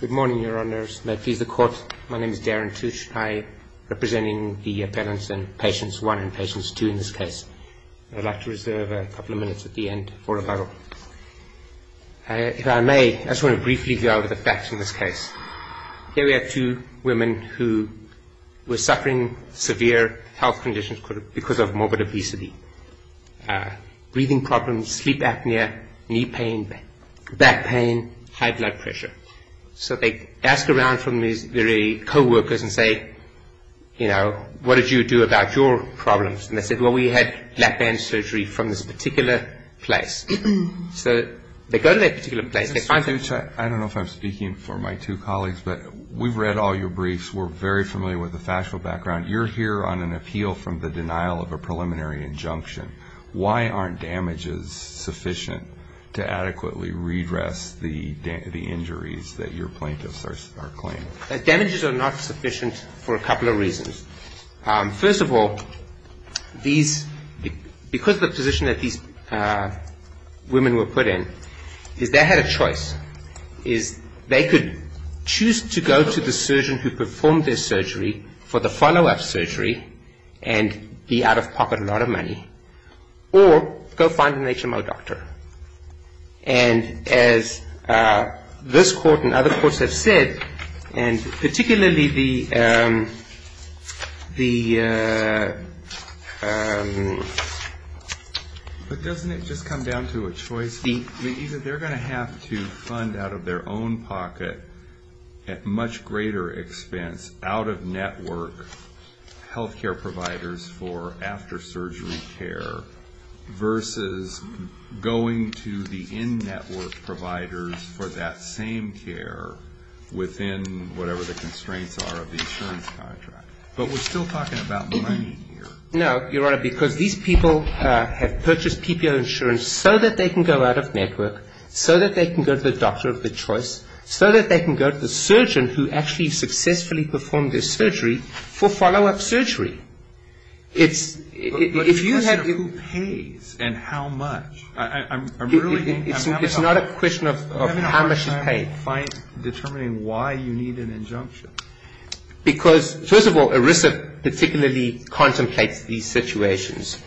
Good morning, Your Honours. May it please the Court, my name is Darren Tushnaya, representing the appellants in Patients 1 and Patients 2 in this case. I'd like to reserve a couple of minutes at the end for rebuttal. If I may, I just want to briefly go over the facts in this case. Here we have two women who were suffering severe health conditions because of morbid obesity, breathing problems, sleep apnea, knee pain, back pain, high blood pressure. So they ask around from these very co-workers and say, you know, what did you do about your problems? And they said, well, we had lap band surgery from this particular place. So they go to that particular place, they find that- Mr. Tushnaya, I don't know if I'm speaking for my two colleagues, but we've read all your briefs. We're very familiar with the factual background. You're here on an appeal from the denial of a preliminary injunction. Why aren't damages sufficient to adequately redress the injuries that your plaintiffs are claiming? Damages are not sufficient for a couple of reasons. First of all, because the position that these women were put in is they had a choice. They could choose to go to the surgeon who performed their surgery for the follow-up surgery and be out of pocket a lot of money or go find an HMO doctor. And as this court and other courts have said, and particularly the- But doesn't it just come down to a choice? They're going to have to fund out of their own pocket at much greater expense out-of-network health care providers for after-surgery care versus going to the in-network providers for that same care within whatever the constraints are of the insurance contract. But we're still talking about money here. No, Your Honor, because these people have purchased PPO insurance so that they can go out of network, so that they can go to the doctor of their choice, so that they can go to the surgeon who actually successfully performed their surgery for follow-up surgery. But if you had- But it's a question of who pays and how much. I'm really- It's not a question of how much you pay. I'm having a hard time determining why you need an injunction. Because first of all, ERISA particularly contemplates these situations.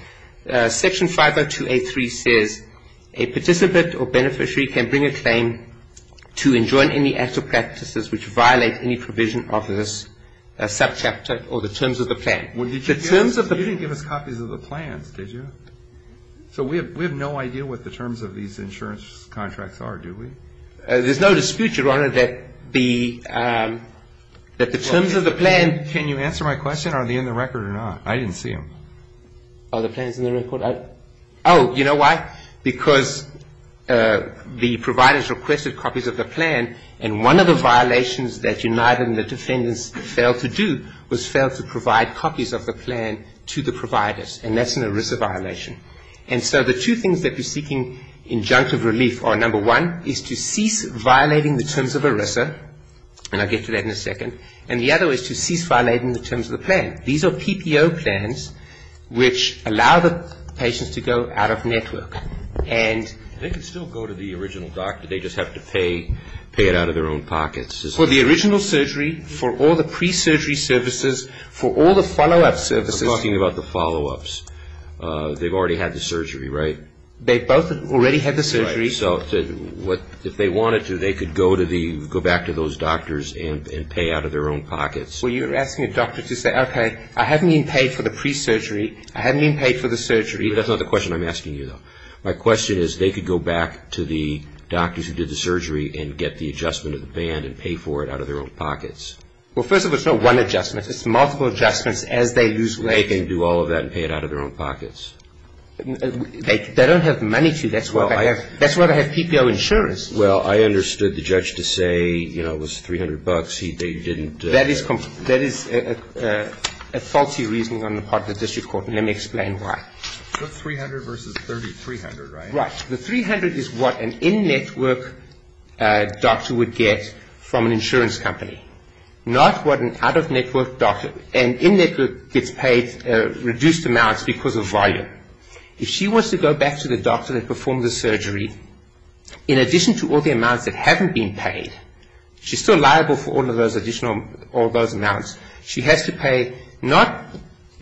Section 50283 says a participant or beneficiary can bring a claim to enjoin any act or practices which violate any provision of this subchapter or the terms of the plan. Well, you didn't give us copies of the plans, did you? So we have no idea what the terms of these insurance contracts are, do we? There's no dispute, Your Honor, that the terms of the plan- Can you answer my question? Are they in the record or not? I didn't see them. Are the plans in the record? Oh, you know why? Because the providers requested copies of the plan, and one of the violations that United and the defendants failed to do was fail to provide copies of the plan to the providers, and that's an ERISA violation. And so the two things that we're seeking injunctive relief on, number one, is to cease violating the terms of ERISA, and I'll get to that in a second, and the other is to cease violating the terms of the plan. These are PPO plans, which allow the patients to go out of network. They can still go to the original doctor. They just have to pay it out of their own pockets. For the original surgery, for all the pre-surgery services, for all the follow-up services- I'm talking about the follow-ups. They've already had the surgery, right? They've both already had the surgery. So if they wanted to, they could go back to those doctors and pay out of their own pockets. Well, you're asking a doctor to say, okay, I haven't even paid for the pre-surgery. I haven't even paid for the surgery. That's not the question I'm asking you, though. My question is, they could go back to the doctors who did the surgery and get the adjustment of the band and pay for it out of their own pockets. Well, first of all, it's not one adjustment. It's multiple adjustments as they lose weight. They can do all of that and pay it out of their own pockets. They don't have money to. That's why they have PPO insurers. Well, I understood the judge to say, you know, it was 300 bucks. He didn't- That is a faulty reasoning on the part of the district court, and let me explain why. The 300 versus 30, 300, right? Right. The 300 is what an in-network doctor would get from an insurance company, not what an out-of-network doctor- an in-network gets paid reduced amounts because of volume. If she wants to go back to the doctor that performed the surgery, in addition to all the amounts that haven't been paid, she's still liable for all of those additional- all those amounts. She has to pay not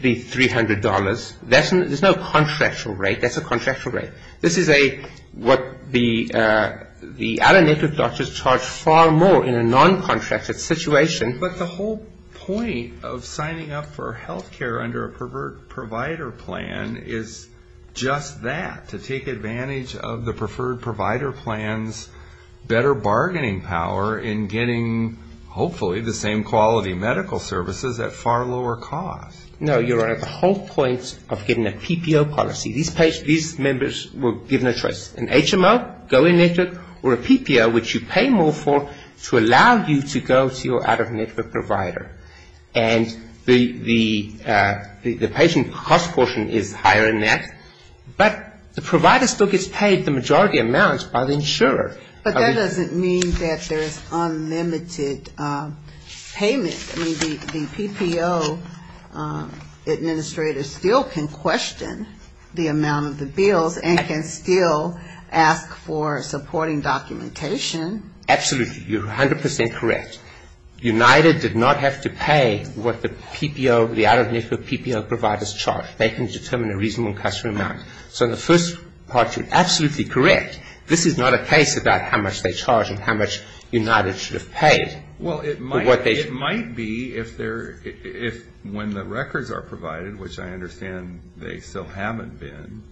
the $300. There's no contractual rate. That's a contractual rate. This is a- what the out-of-network doctors charge far more in a non-contractual situation. But the whole point of signing up for health care under a pervert provider plan is just that, to take advantage of the preferred provider plan's better bargaining power in getting hopefully the same quality medical services at far lower cost. No, Your Honor, the whole point of getting a PPO policy. These members were given a choice, an HMO, go in-network, or a PPO, which you pay more for to allow you to go to your out-of-network provider. And the patient cost portion is higher than that. But the provider still gets paid the majority amounts by the insurer. But that doesn't mean that there's unlimited payment. I mean, the PPO administrator still can question the amount of the bills and can still ask for supporting documentation. Absolutely. You're 100 percent correct. United did not have to pay what the PPO, the out-of-network PPO providers charge. They can determine a reasonable customer amount. So in the first part, you're absolutely correct. This is not a case about how much they charge and how much United should have paid. Well, it might be if when the records are provided, which I understand they still haven't been,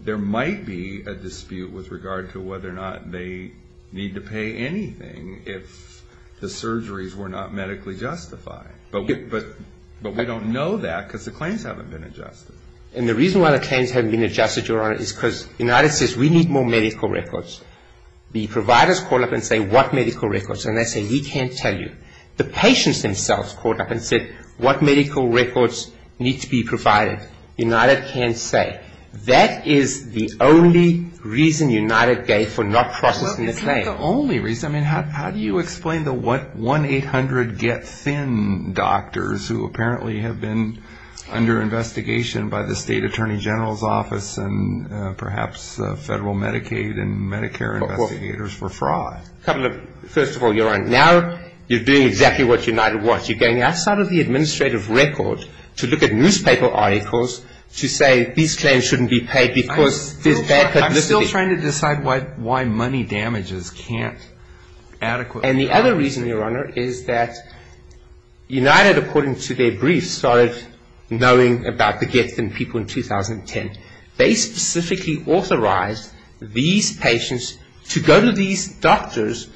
there might be a dispute with regard to whether or not they need to pay anything if the surgeries were not medically justified. But we don't know that because the claims haven't been adjusted. And the reason why the claims haven't been adjusted, Your Honor, is because United says we need more medical records. The providers call up and say what medical records, and they say we can't tell you. The patients themselves called up and said what medical records need to be provided. United can't say. That is the only reason United gave for not processing the claim. It's not the only reason. I mean, how do you explain the 1-800-get-thin doctors who apparently have been under investigation by the State Attorney General's Office and perhaps Federal Medicaid and Medicare investigators for fraud? First of all, Your Honor, now you're doing exactly what United wants. You're going outside of the administrative record to look at newspaper articles to say these claims shouldn't be paid because there's bad publicity. I'm still trying to decide why money damages can't adequately be adjusted. And the other reason, Your Honor, is that United, according to their briefs, started knowing about the get-thin people in 2010. They specifically authorized these patients to go to these doctors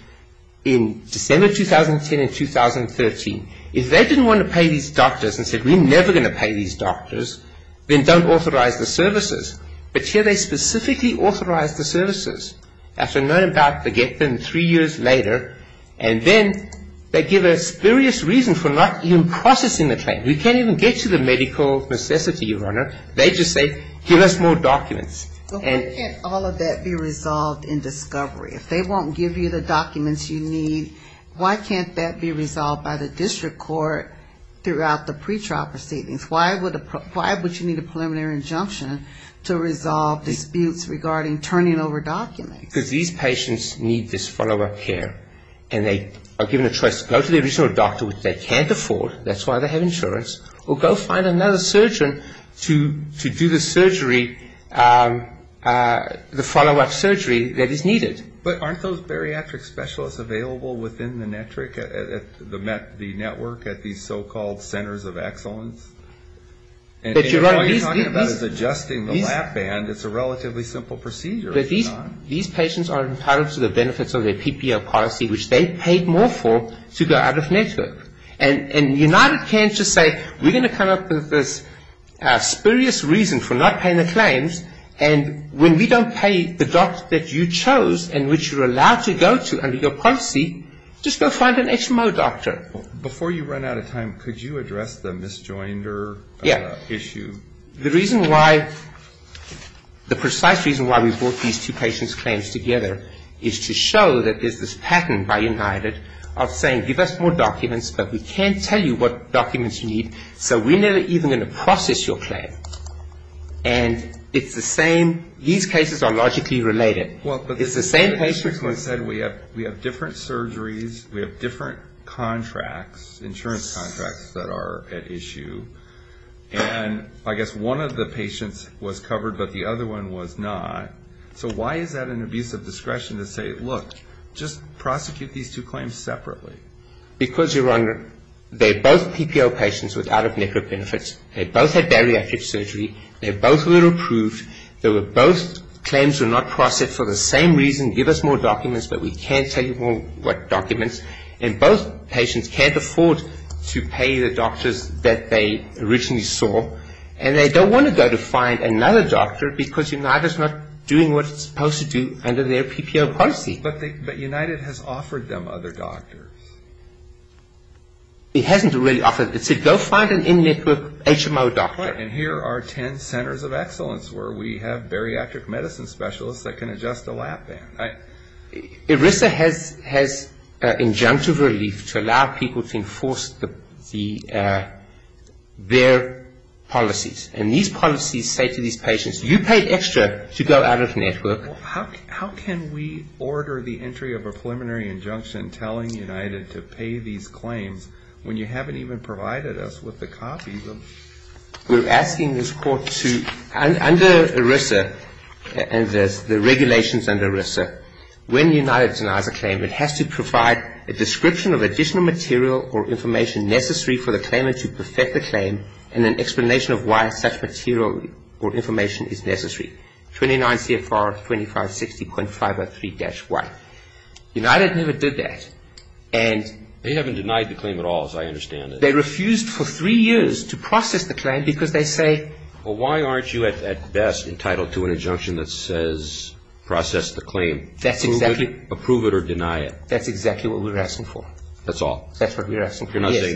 in December 2010 and 2013. If they didn't want to pay these doctors and said we're never going to pay these doctors, then don't authorize the services. But here they specifically authorized the services after knowing about the get-thin three years later, and then they give us various reasons for not even processing the claim. We can't even get to the medical necessity, Your Honor. They just say give us more documents. Why can't all of that be resolved in discovery? If they won't give you the documents you need, why can't that be resolved by the district court throughout the pretrial proceedings? Why would you need a preliminary injunction to resolve disputes regarding turning over documents? Because these patients need this follow-up care. And they are given a choice to go to the original doctor, which they can't afford, that's why they have insurance, or go find another surgeon to do the surgery, the follow-up surgery that is needed. But aren't those bariatric specialists available within the network at these so-called centers of excellence? All you're talking about is adjusting the lap band. It's a relatively simple procedure. These patients are entitled to the benefits of their PPO policy, which they paid more for to go out of network. And United can't just say we're going to come up with this spurious reason for not paying the claims, and when we don't pay the doctor that you chose and which you're allowed to go to under your policy, just go find an HMO doctor. Before you run out of time, could you address the misjoinder issue? Yeah. The reason why, the precise reason why we brought these two patients' claims together is to show that there's this pattern by United of saying give us more documents, but we can't tell you what documents you need, so we're never even going to process your claim. And it's the same, these cases are logically related. It's the same patient. Well, but the patient said we have different surgeries, we have different contracts, insurance contracts that are at issue. And I guess one of the patients was covered, but the other one was not. So why is that an abuse of discretion to say, look, just prosecute these two claims separately? Because, Your Honor, they're both PPO patients without a network benefit. They both had bariatric surgery. They both were approved. They were both claims were not processed for the same reason, give us more documents, but we can't tell you what documents. And both patients can't afford to pay the doctors that they originally saw, and they don't want to go to find another doctor because United is not doing what it's supposed to do under their PPO policy. But United has offered them other doctors. It hasn't really offered. It said go find an in-network HMO doctor. Right, and here are ten centers of excellence where we have bariatric medicine specialists that can adjust a lap band. ERISA has injunctive relief to allow people to enforce their policies. And these policies say to these patients, you paid extra to go out of network. Well, how can we order the entry of a preliminary injunction telling United to pay these claims when you haven't even provided us with the copies of them? We're asking this Court to, under ERISA and the regulations under ERISA, when United denies a claim, it has to provide a description of additional material or information necessary for the claimant to perfect the claim and an explanation of why such material or information is necessary. 29 CFR 2560.503-Y. United never did that. They haven't denied the claim at all, as I understand it. They refused for three years to process the claim because they say... Well, why aren't you at best entitled to an injunction that says process the claim? Approve it or deny it. That's exactly what we're asking for. That's all? That's what we're asking for, yes.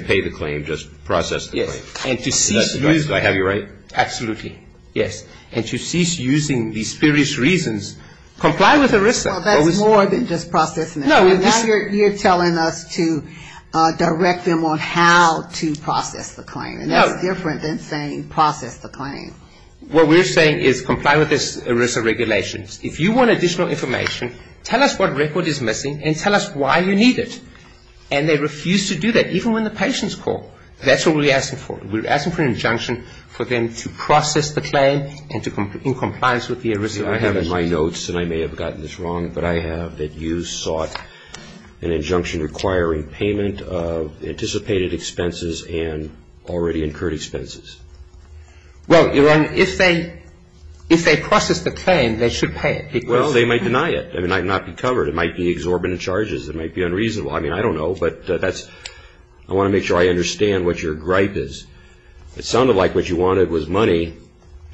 And to cease using... Do I have you right? Absolutely, yes. And to cease using these spurious reasons, comply with ERISA. Well, that's more than just processing the claim. No. Now you're telling us to direct them on how to process the claim. No. And that's different than saying process the claim. What we're saying is comply with these ERISA regulations. If you want additional information, tell us what record is missing and tell us why you need it. And they refuse to do that, even when the patients call. That's what we're asking for. We're asking for an injunction for them to process the claim and in compliance with the ERISA regulations. I have in my notes, and I may have gotten this wrong, but I have that you sought an injunction requiring payment of anticipated expenses and already incurred expenses. Well, Your Honor, if they process the claim, they should pay it. Well, they might deny it. It might not be covered. It might be exorbitant charges. It might be unreasonable. I mean, I don't know, but I want to make sure I understand what your gripe is. It sounded like what you wanted was money,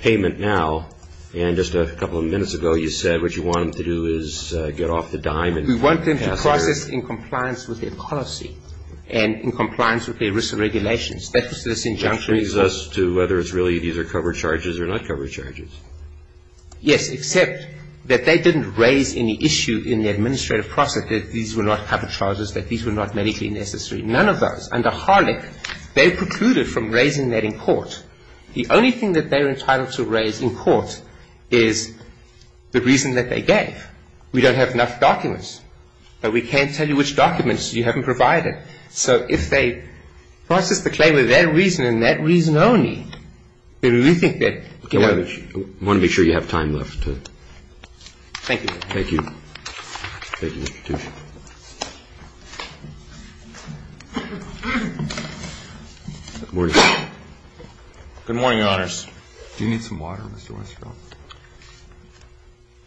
payment now, and just a couple of minutes ago you said what you want them to do is get off the dime. We want them to process in compliance with their policy and in compliance with their ERISA regulations. That was this injunction. Which brings us to whether it's really these are covered charges or not covered charges. Yes, except that they didn't raise any issue in the administrative process that these were not covered charges, that these were not medically necessary. None of those. Under Harlech, they've precluded from raising that in court. The only thing that they're entitled to raise in court is the reason that they gave. We don't have enough documents, but we can't tell you which documents you haven't provided. So if they process the claim with that reason and that reason only, then we think that, you know, we want to make sure you have time left. Thank you. Thank you. Thank you, Mr. Tuchin. Good morning. Good morning, Your Honors. Do you need some water, Mr. Westerfeld?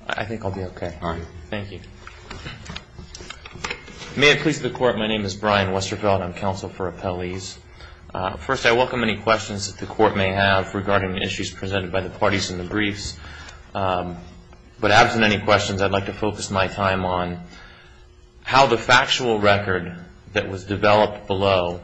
I think I'll be okay. All right. Thank you. May it please the Court, my name is Brian Westerfeld. I'm counsel for Appellees. First, I welcome any questions that the Court may have regarding issues presented by the parties in the briefs. But absent any questions, I'd like to focus my time on how the factual record that was developed below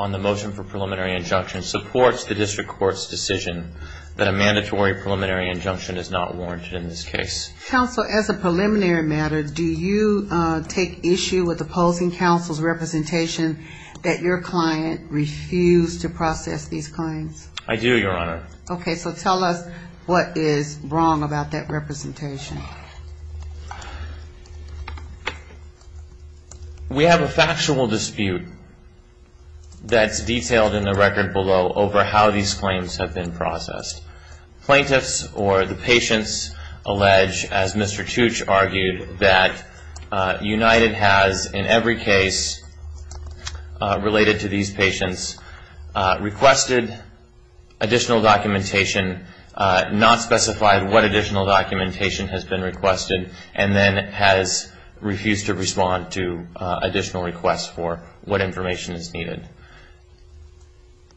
on the motion for preliminary injunction supports the district court's decision that a mandatory preliminary injunction is not warranted in this case. Counsel, as a preliminary matter, do you take issue with opposing counsel's representation that your client refused to process these claims? I do, Your Honor. Okay. So tell us what is wrong about that representation. We have a factual dispute that's detailed in the record below over how these claims have been processed. Plaintiffs or the patients allege, as Mr. Tuch argued, that United has, in every case related to these patients, requested additional documentation, not specified what additional documentation has been requested, and then has refused to respond to additional requests for what information is needed.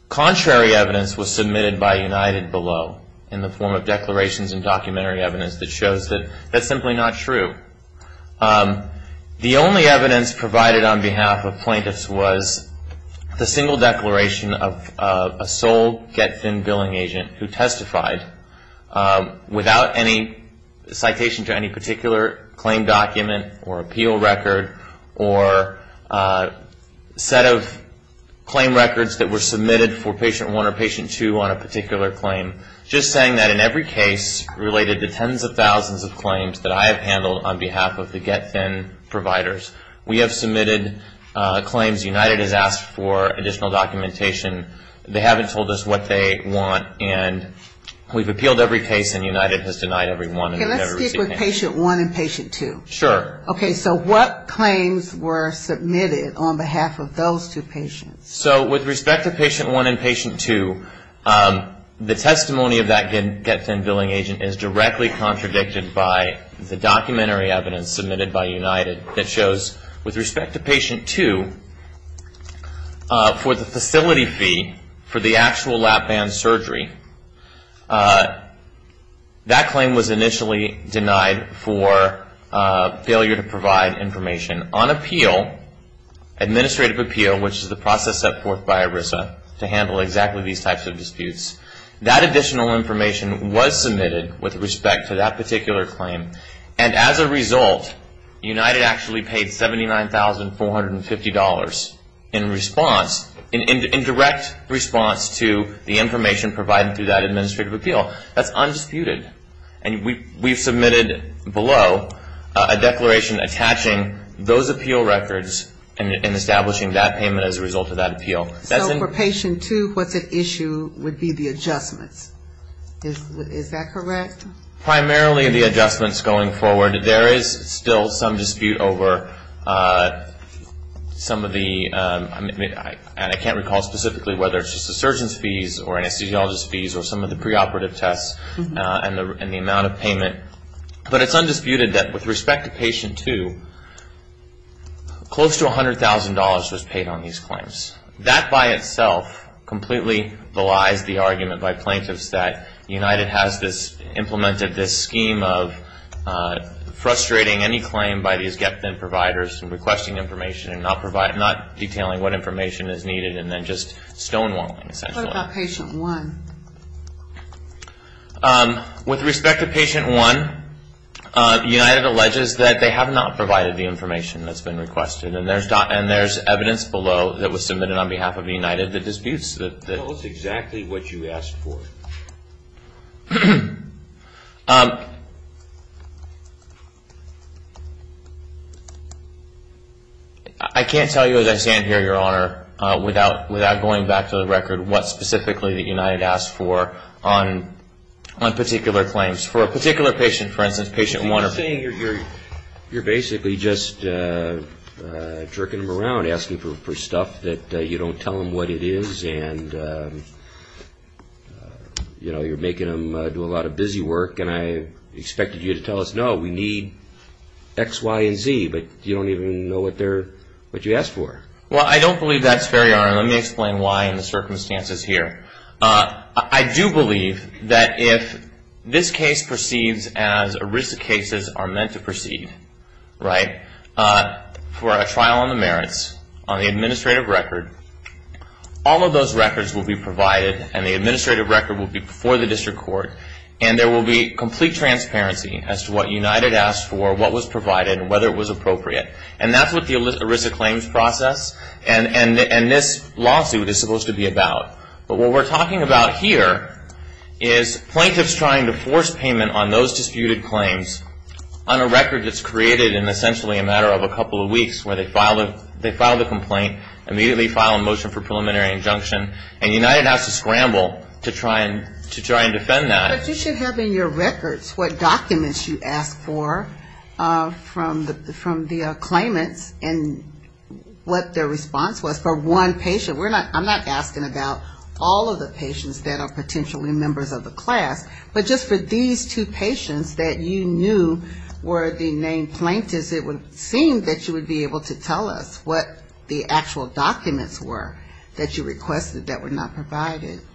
Contrary evidence was submitted by United below in the form of declarations and documentary evidence that shows that that's simply not true. The only evidence provided on behalf of plaintiffs was the single declaration of a sole Get Thin Billing agent who testified without any citation to any particular claim document or appeal record or set of claim records that were submitted for patient one or patient two on a particular claim. Just saying that in every case related to tens of thousands of claims that I have handled on behalf of the Get Thin providers, we have submitted claims United has asked for additional documentation. They haven't told us what they want, and we've appealed every case, and United has denied every one. Can I speak with patient one and patient two? Sure. Okay, so what claims were submitted on behalf of those two patients? So with respect to patient one and patient two, the testimony of that Get Thin Billing agent is directly contradicted by the documentary for the actual lap band surgery. That claim was initially denied for failure to provide information. On appeal, administrative appeal, which is the process set forth by ERISA to handle exactly these types of disputes, that additional information was submitted with respect to that particular claim, and as a result, United actually paid $79,450 in response, in direct response to the information provided through that administrative appeal. That's undisputed, and we've submitted below a declaration attaching those appeal records and establishing that payment as a result of that appeal. So for patient two, what's at issue would be the adjustments. Is that correct? Primarily the adjustments going forward. There is still some dispute over some of the, and I can't recall specifically whether it's just the surgeon's fees or anesthesiologist's fees or some of the preoperative tests and the amount of payment, but it's undisputed that with respect to patient two, close to $100,000 was paid on these claims. That by itself completely belies the argument by plaintiffs that United has implemented this scheme of frustrating any claim by these get-then-providers and requesting information and not detailing what information is needed and then just stonewalling, essentially. What about patient one? With respect to patient one, United alleges that they have not provided the information that's been requested, and there's evidence below that was submitted on behalf of United that disputes that. Tell us exactly what you asked for. I can't tell you as I stand here, Your Honor, without going back to the record what specifically that United asked for on particular claims. For a particular patient, for instance, patient one. You're basically just jerking them around, asking for stuff that you don't tell them what it is, and you're making them do a lot of busy work, and I expected you to tell us, no, we need X, Y, and Z, but you don't even know what you asked for. Well, I don't believe that's fair, Your Honor, and let me explain why in the circumstances here. I do believe that if this case proceeds as ERISA cases are meant to proceed, right, for a trial on the merits, on the administrative record, all of those records will be provided, and the administrative record will be before the district court, and there will be complete transparency as to what United asked for, what was provided, and whether it was appropriate, and that's what the ERISA claims process and this lawsuit is supposed to be about. But what we're talking about here is plaintiffs trying to force payment on those disputed claims on a record that's created in essentially a matter of a couple of weeks where they filed a complaint, immediately filed a motion for preliminary injunction, and United has to scramble to try and defend that. But you should have in your records what documents you asked for from the claimants and what their response was for one patient. I'm not asking about all of the patients that are potentially members of the class, but just for these two patients that you knew were the named plaintiffs, it would seem that you would be able to tell us what the actual documents were that you requested that were not submitted by plaintiffs,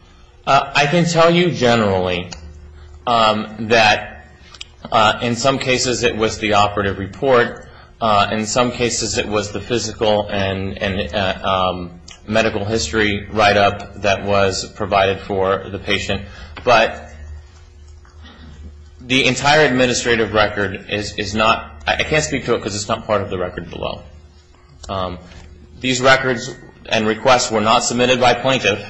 that in some cases it was the operative report, in some cases it was the physical and medical history write-up that was provided for the patient. But the entire administrative record is not, I can't speak to it because it's not part of the record below. These records and requests were not submitted by plaintiffs,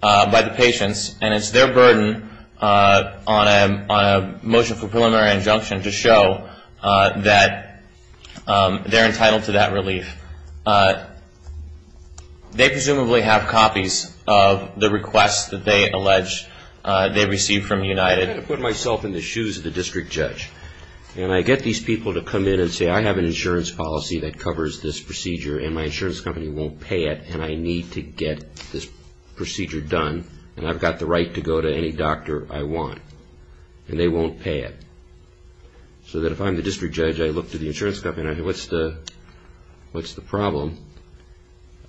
by the patients, and it's their burden on a motion for preliminary injunction to show that they're entitled to that relief. They presumably have copies of the requests that they allege they received from United. I put myself in the shoes of the district judge, and I get these people to come in and say, I have an insurance policy that covers this and I need to get this procedure done, and I've got the right to go to any doctor I want. And they won't pay it. So that if I'm the district judge, I look to the insurance company and I go, what's the problem?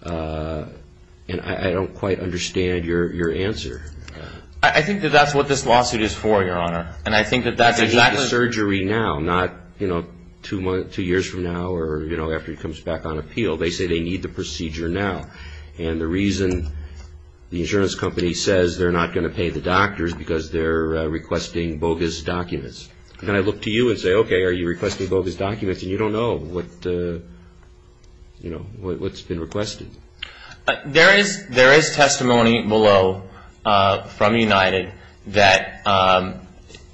And I don't quite understand your answer. I think that that's what this lawsuit is for, Your Honor. I need the surgery now, not two years from now or after he comes back on appeal. They say they need the procedure now. And the reason the insurance company says they're not going to pay the doctor is because they're requesting bogus documents. And I look to you and say, okay, are you requesting bogus documents? And you don't know what's been requested. There is testimony below from United that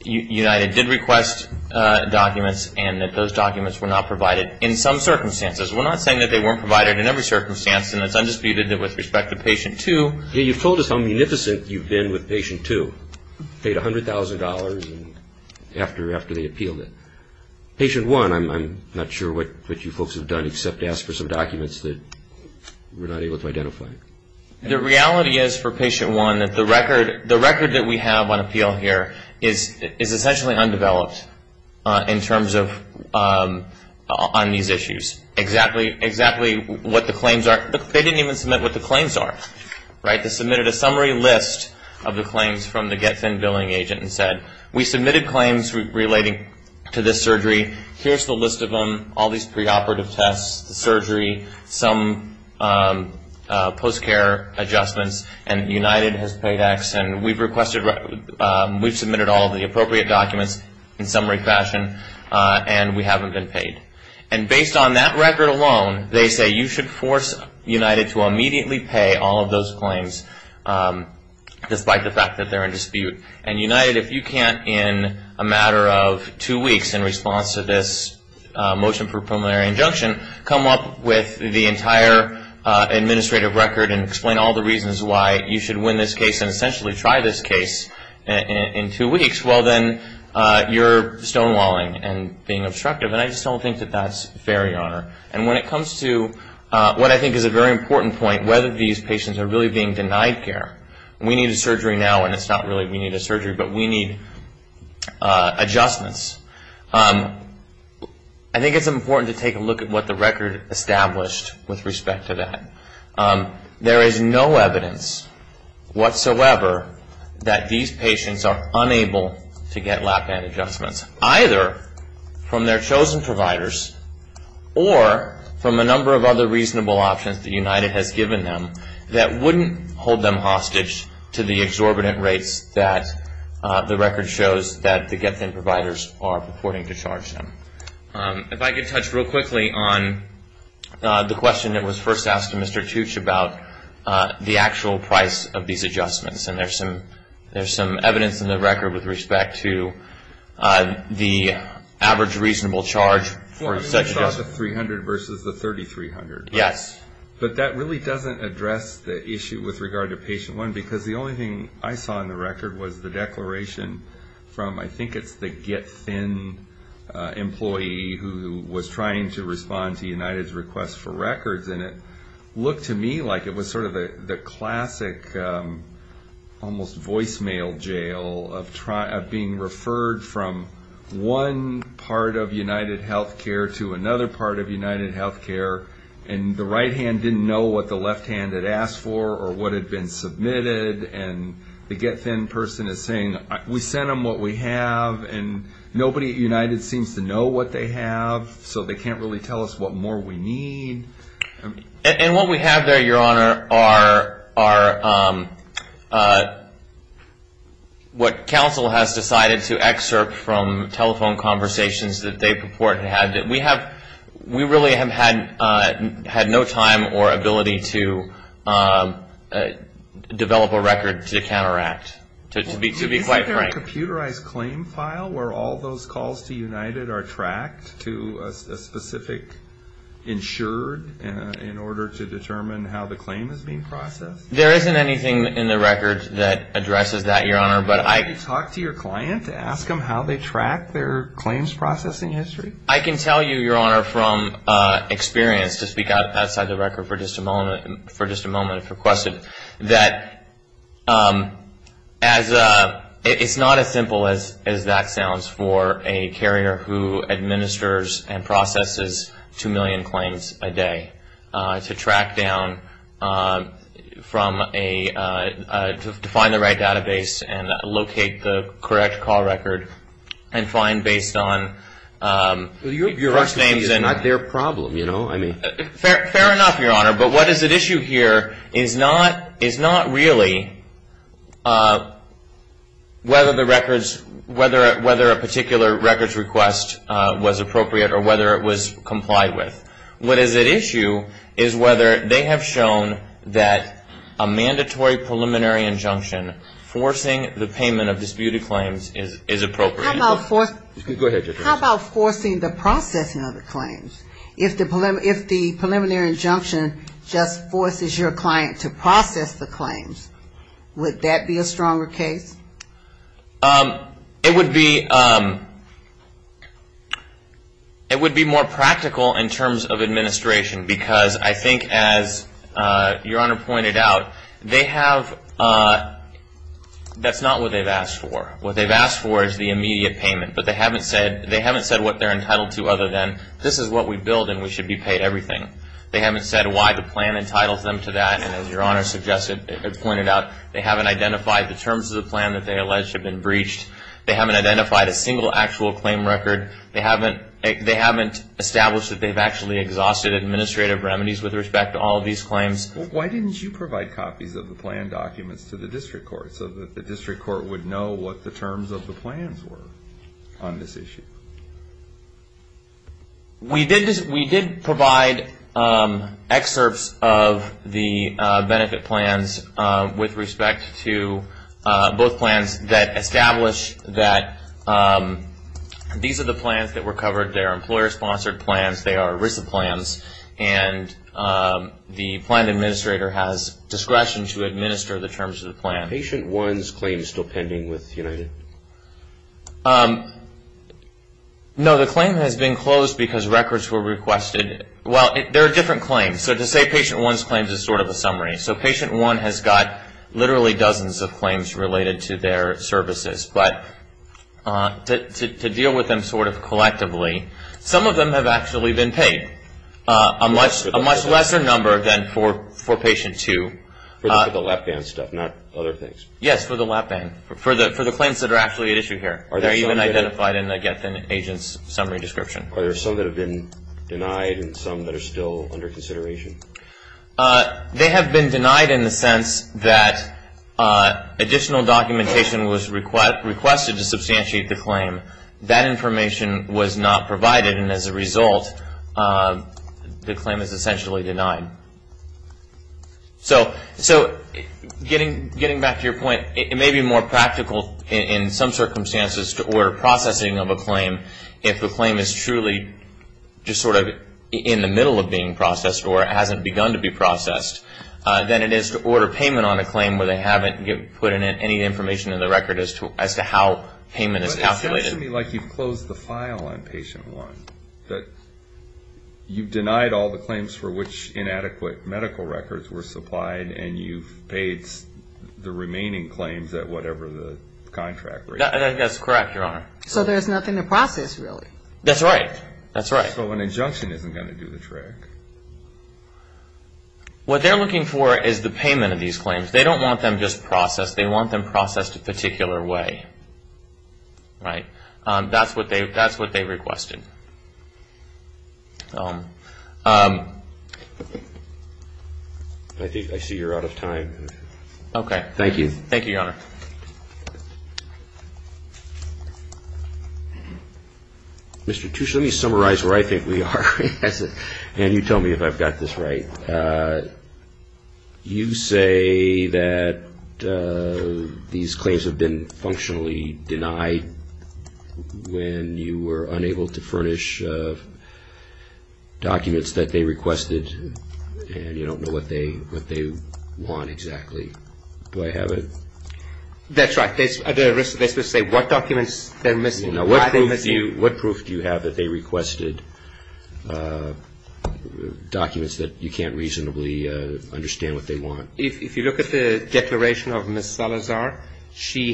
United did request documents and that those documents were not provided in some circumstances. We're not saying that they weren't provided in every circumstance, and it's undisputed that with respect to patient two. You've told us how munificent you've been with patient two. Paid $100,000 after they appealed it. Patient one, I'm not sure what you folks have done except ask for some documents that we're not able to identify. The reality is for patient one that the record that we have on appeal here is essentially undeveloped in terms of on these issues. Exactly what the claims are. They didn't even submit what the claims are. They submitted a summary list of the claims from the Get Thin Billing agent and said, we submitted claims relating to this surgery. Here's the list of them, all these preoperative tests, the surgery, some post-care adjustments, and United has paid X. And we've submitted all of the appropriate documents in summary fashion, and we haven't been paid. And based on that record alone, they say you should force United to immediately pay all of those claims, despite the fact that they're in dispute. And United, if you can't in a matter of two weeks in response to this motion for preliminary injunction, come up with the entire administrative record and explain all the reasons why you should win this case and essentially try this case in two weeks, well, then you're stonewalling and being obstructive. And I just don't think that that's fair, Your Honor. And when it comes to what I think is a very important point, whether these patients are really being denied care. We need a surgery now, and it's not really we need a surgery, but we need adjustments. I think it's important to take a look at what the record established with respect to that. There is no evidence whatsoever that these patients are unable to get lap band adjustments, either from their chosen providers or from a number of other reasonable options that United has given them that wouldn't hold them hostage to the exorbitant rates that the record shows that the GetThin providers are purporting to charge them. If I could touch real quickly on the question that was first asked to Mr. Tooch about the actual price of these adjustments. And there's some evidence in the record with respect to the average reasonable charge for such adjustments. I saw the $300 versus the $3,300. Yes. But that really doesn't address the issue with regard to patient one, because the only thing I saw in the record was the declaration from I think it's the GetThin employee who was trying to respond to United's request for records. And it looked to me like it was sort of the classic almost voicemail jail of being referred from one part of United Healthcare to another part of United Healthcare, and the right hand didn't know what the left hand had asked for or what had been submitted. And the GetThin person is saying, we sent them what we have, and nobody at United seems to know what they have, so they can't really tell us what more we need. And what we have there, Your Honor, are what counsel has decided to excerpt from telephone conversations that they purport to have and we really have had no time or ability to develop a record to counteract. To be quite frank. Isn't there a computerized claim file where all those calls to United are tracked to a specific insured in order to determine how the claim is being processed? There isn't anything in the record that addresses that, Your Honor. Can you talk to your client to ask them how they track their claims processing history? I can tell you, Your Honor, from experience, to speak outside the record for just a moment, if requested, that it's not as simple as that sounds for a carrier who administers and processes 2 million claims a day to track down from a, to find the right database and locate the correct call record and find based on first names and. Your question is not their problem, you know, I mean. Fair enough, Your Honor, but what is at issue here is not really whether the records, whether a particular records request was appropriate or whether it was complied with. What is at issue is whether they have shown that a mandatory preliminary injunction forcing the payment of disputed claims is appropriate. How about forcing the processing of the claims? If the preliminary injunction just forces your client to process the claims, would that be a stronger case? It would be more practical in terms of administration, because I think as Your Honor pointed out, they have, that's not what they've asked for. What they've asked for is the immediate payment, but they haven't said what they're entitled to other than, this is what we build and we should be paid everything. They haven't said why the plan entitles them to that, and as Your Honor pointed out, they haven't identified the terms of the plan that they allege have been breached. They haven't identified a single actual claim record. They haven't established that they've actually exhausted administrative remedies with respect to all of these claims. Why didn't you provide copies of the plan documents to the district court so that the district court would know what the terms of the plans were on this issue? We did provide excerpts of the benefit plans with respect to both plans that establish that these are the plans that were covered. They're employer-sponsored plans. They are ERISA plans, and the plan administrator has discretion to administer the terms of the plan. Are Patient 1's claims still pending with United? No, the claim has been closed because records were requested. Well, there are different claims, so to say Patient 1's claims is sort of a summary. So Patient 1 has got literally dozens of claims related to their services, but to deal with them sort of collectively, some of them have actually been paid, a much lesser number than for Patient 2. For the lap band stuff, not other things? Yes, for the lap band, for the claims that are actually at issue here. Are there some that have been denied and some that are still under consideration? They have been denied in the sense that additional documentation was requested to substantiate the claim. That information was not provided, and as a result, the claim is essentially denied. So getting back to your point, it may be more practical in some circumstances to order processing of a claim if the claim is truly just sort of in the middle of being processed or it hasn't begun to be processed than it is to order payment on a claim where they haven't put in any information in the record as to how payment is calculated. But it sounds to me like you've closed the file on Patient 1. You've denied all the claims for which inadequate medical records were supplied, and you've paid the remaining claims at whatever the contract rate is. That's correct, Your Honor. So there's nothing to process, really? That's right. So an injunction isn't going to do the trick. What they're looking for is the payment of these claims. They don't want them just processed. They want them processed a particular way. That's what they requested. I see you're out of time. Thank you, Your Honor. Mr. Tuchin, let me summarize where I think we are, and you tell me if I've got this right. You say that these claims have been functionally denied when you were unable to furnish documents that they requested, and you don't know what they want exactly. Do I have it? That's right. What proof do you have that they requested documents that you can't reasonably understand what they want? If you look at the declaration of Ms. Salazar, she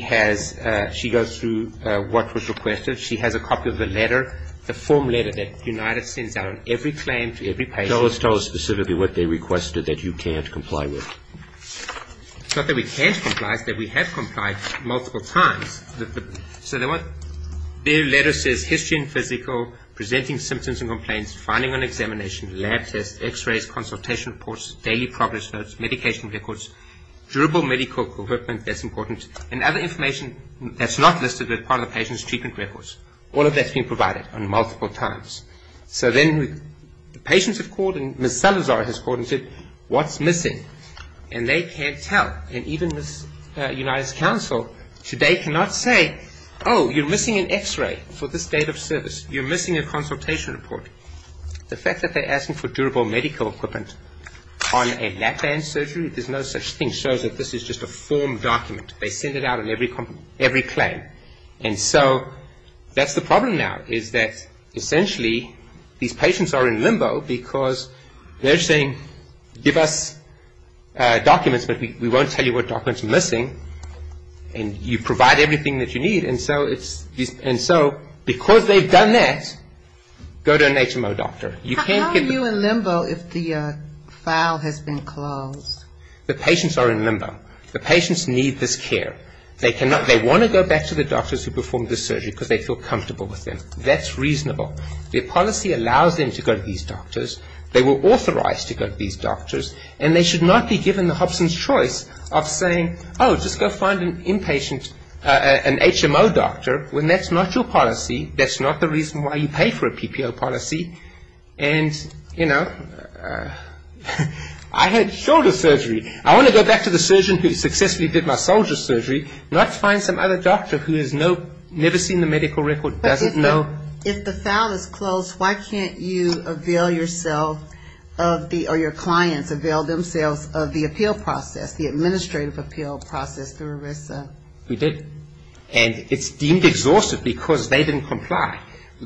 goes through what was requested. She has a copy of the letter, the form letter that United sends out on every claim to every patient. Tell us specifically what they requested that you can't comply with. It's not that we can't comply, it's that we have complied multiple times. So their letter says history and physical, presenting symptoms and complaints, finding and examination, lab tests, x-rays, consultation reports, daily progress notes, medication records, durable medical equipment, that's important, and other information that's not listed as part of the patient's treatment records. All of that's been provided on multiple times. So then the patients have called, and Ms. Salazar has called and said, what's missing? And they can't tell, and even the United Council today cannot say, oh, you're missing an x-ray for this date of service, you're missing a consultation report. The fact that they're asking for durable medical equipment on a lap band surgery, there's no such thing, shows that this is just a form document. They send it out on every claim. And so that's the problem now, is that essentially these patients are in limbo because they're saying, give us documents, but we won't tell you what documents are missing, and you provide everything that you need. And so because they've done that, go to an HMO doctor. How are you in limbo if the file has been closed? The patients are in limbo. The patients need this care. They want to go back to the doctors who performed the surgery because they feel comfortable with them. That's reasonable. The policy allows them to go to these doctors. They were authorized to go to these doctors. And they should not be given the Hobson's choice of saying, oh, just go find an inpatient, an HMO doctor, when that's not your policy, that's not the reason why you pay for a PPO policy. And, you know, I had shoulder surgery. I want to go back to the surgeon who successfully did my soldier's surgery, not find some other doctor who has never seen the medical record, doesn't know. If the file is closed, why can't you avail yourself of the or your clients avail themselves of the appeal process, the administrative appeal process through ERISA? We did. And it's deemed exhaustive because they didn't comply.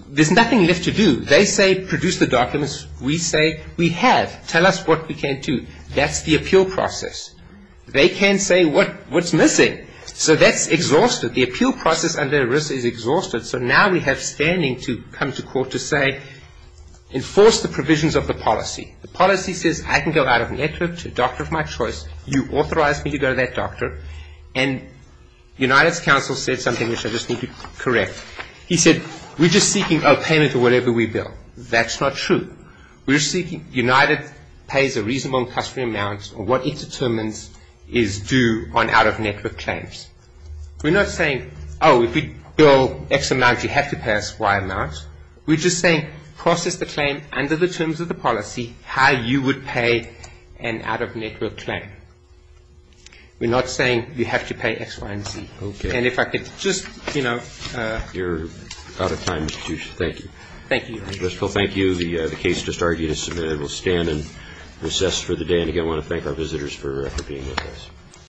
There's nothing left to do. They say produce the documents. We say we have. Tell us what we can't do. That's the appeal process. They can't say what's missing. So that's exhaustive. The appeal process under ERISA is exhaustive. So now we have standing to come to court to say enforce the provisions of the policy. The policy says I can go out of network to a doctor of my choice. You authorized me to go to that doctor. And United's counsel said something which I just need to correct. He said we're just seeking a payment for whatever we bill. That's not true. We're seeking United pays a reasonable customary amount, or what it determines is due on out-of-network claims. We're not saying, oh, if we bill X amount, you have to pay us Y amount. We're just saying process the claim under the terms of the policy how you would pay an out-of-network claim. We're not saying you have to pay X, Y, and Z. Okay. And if I could just, you know. You're out of time. Thank you. Thank you. First of all, thank you. The case just argued is submitted. We'll stand and recess for the day. And, again, I want to thank our visitors for being with us.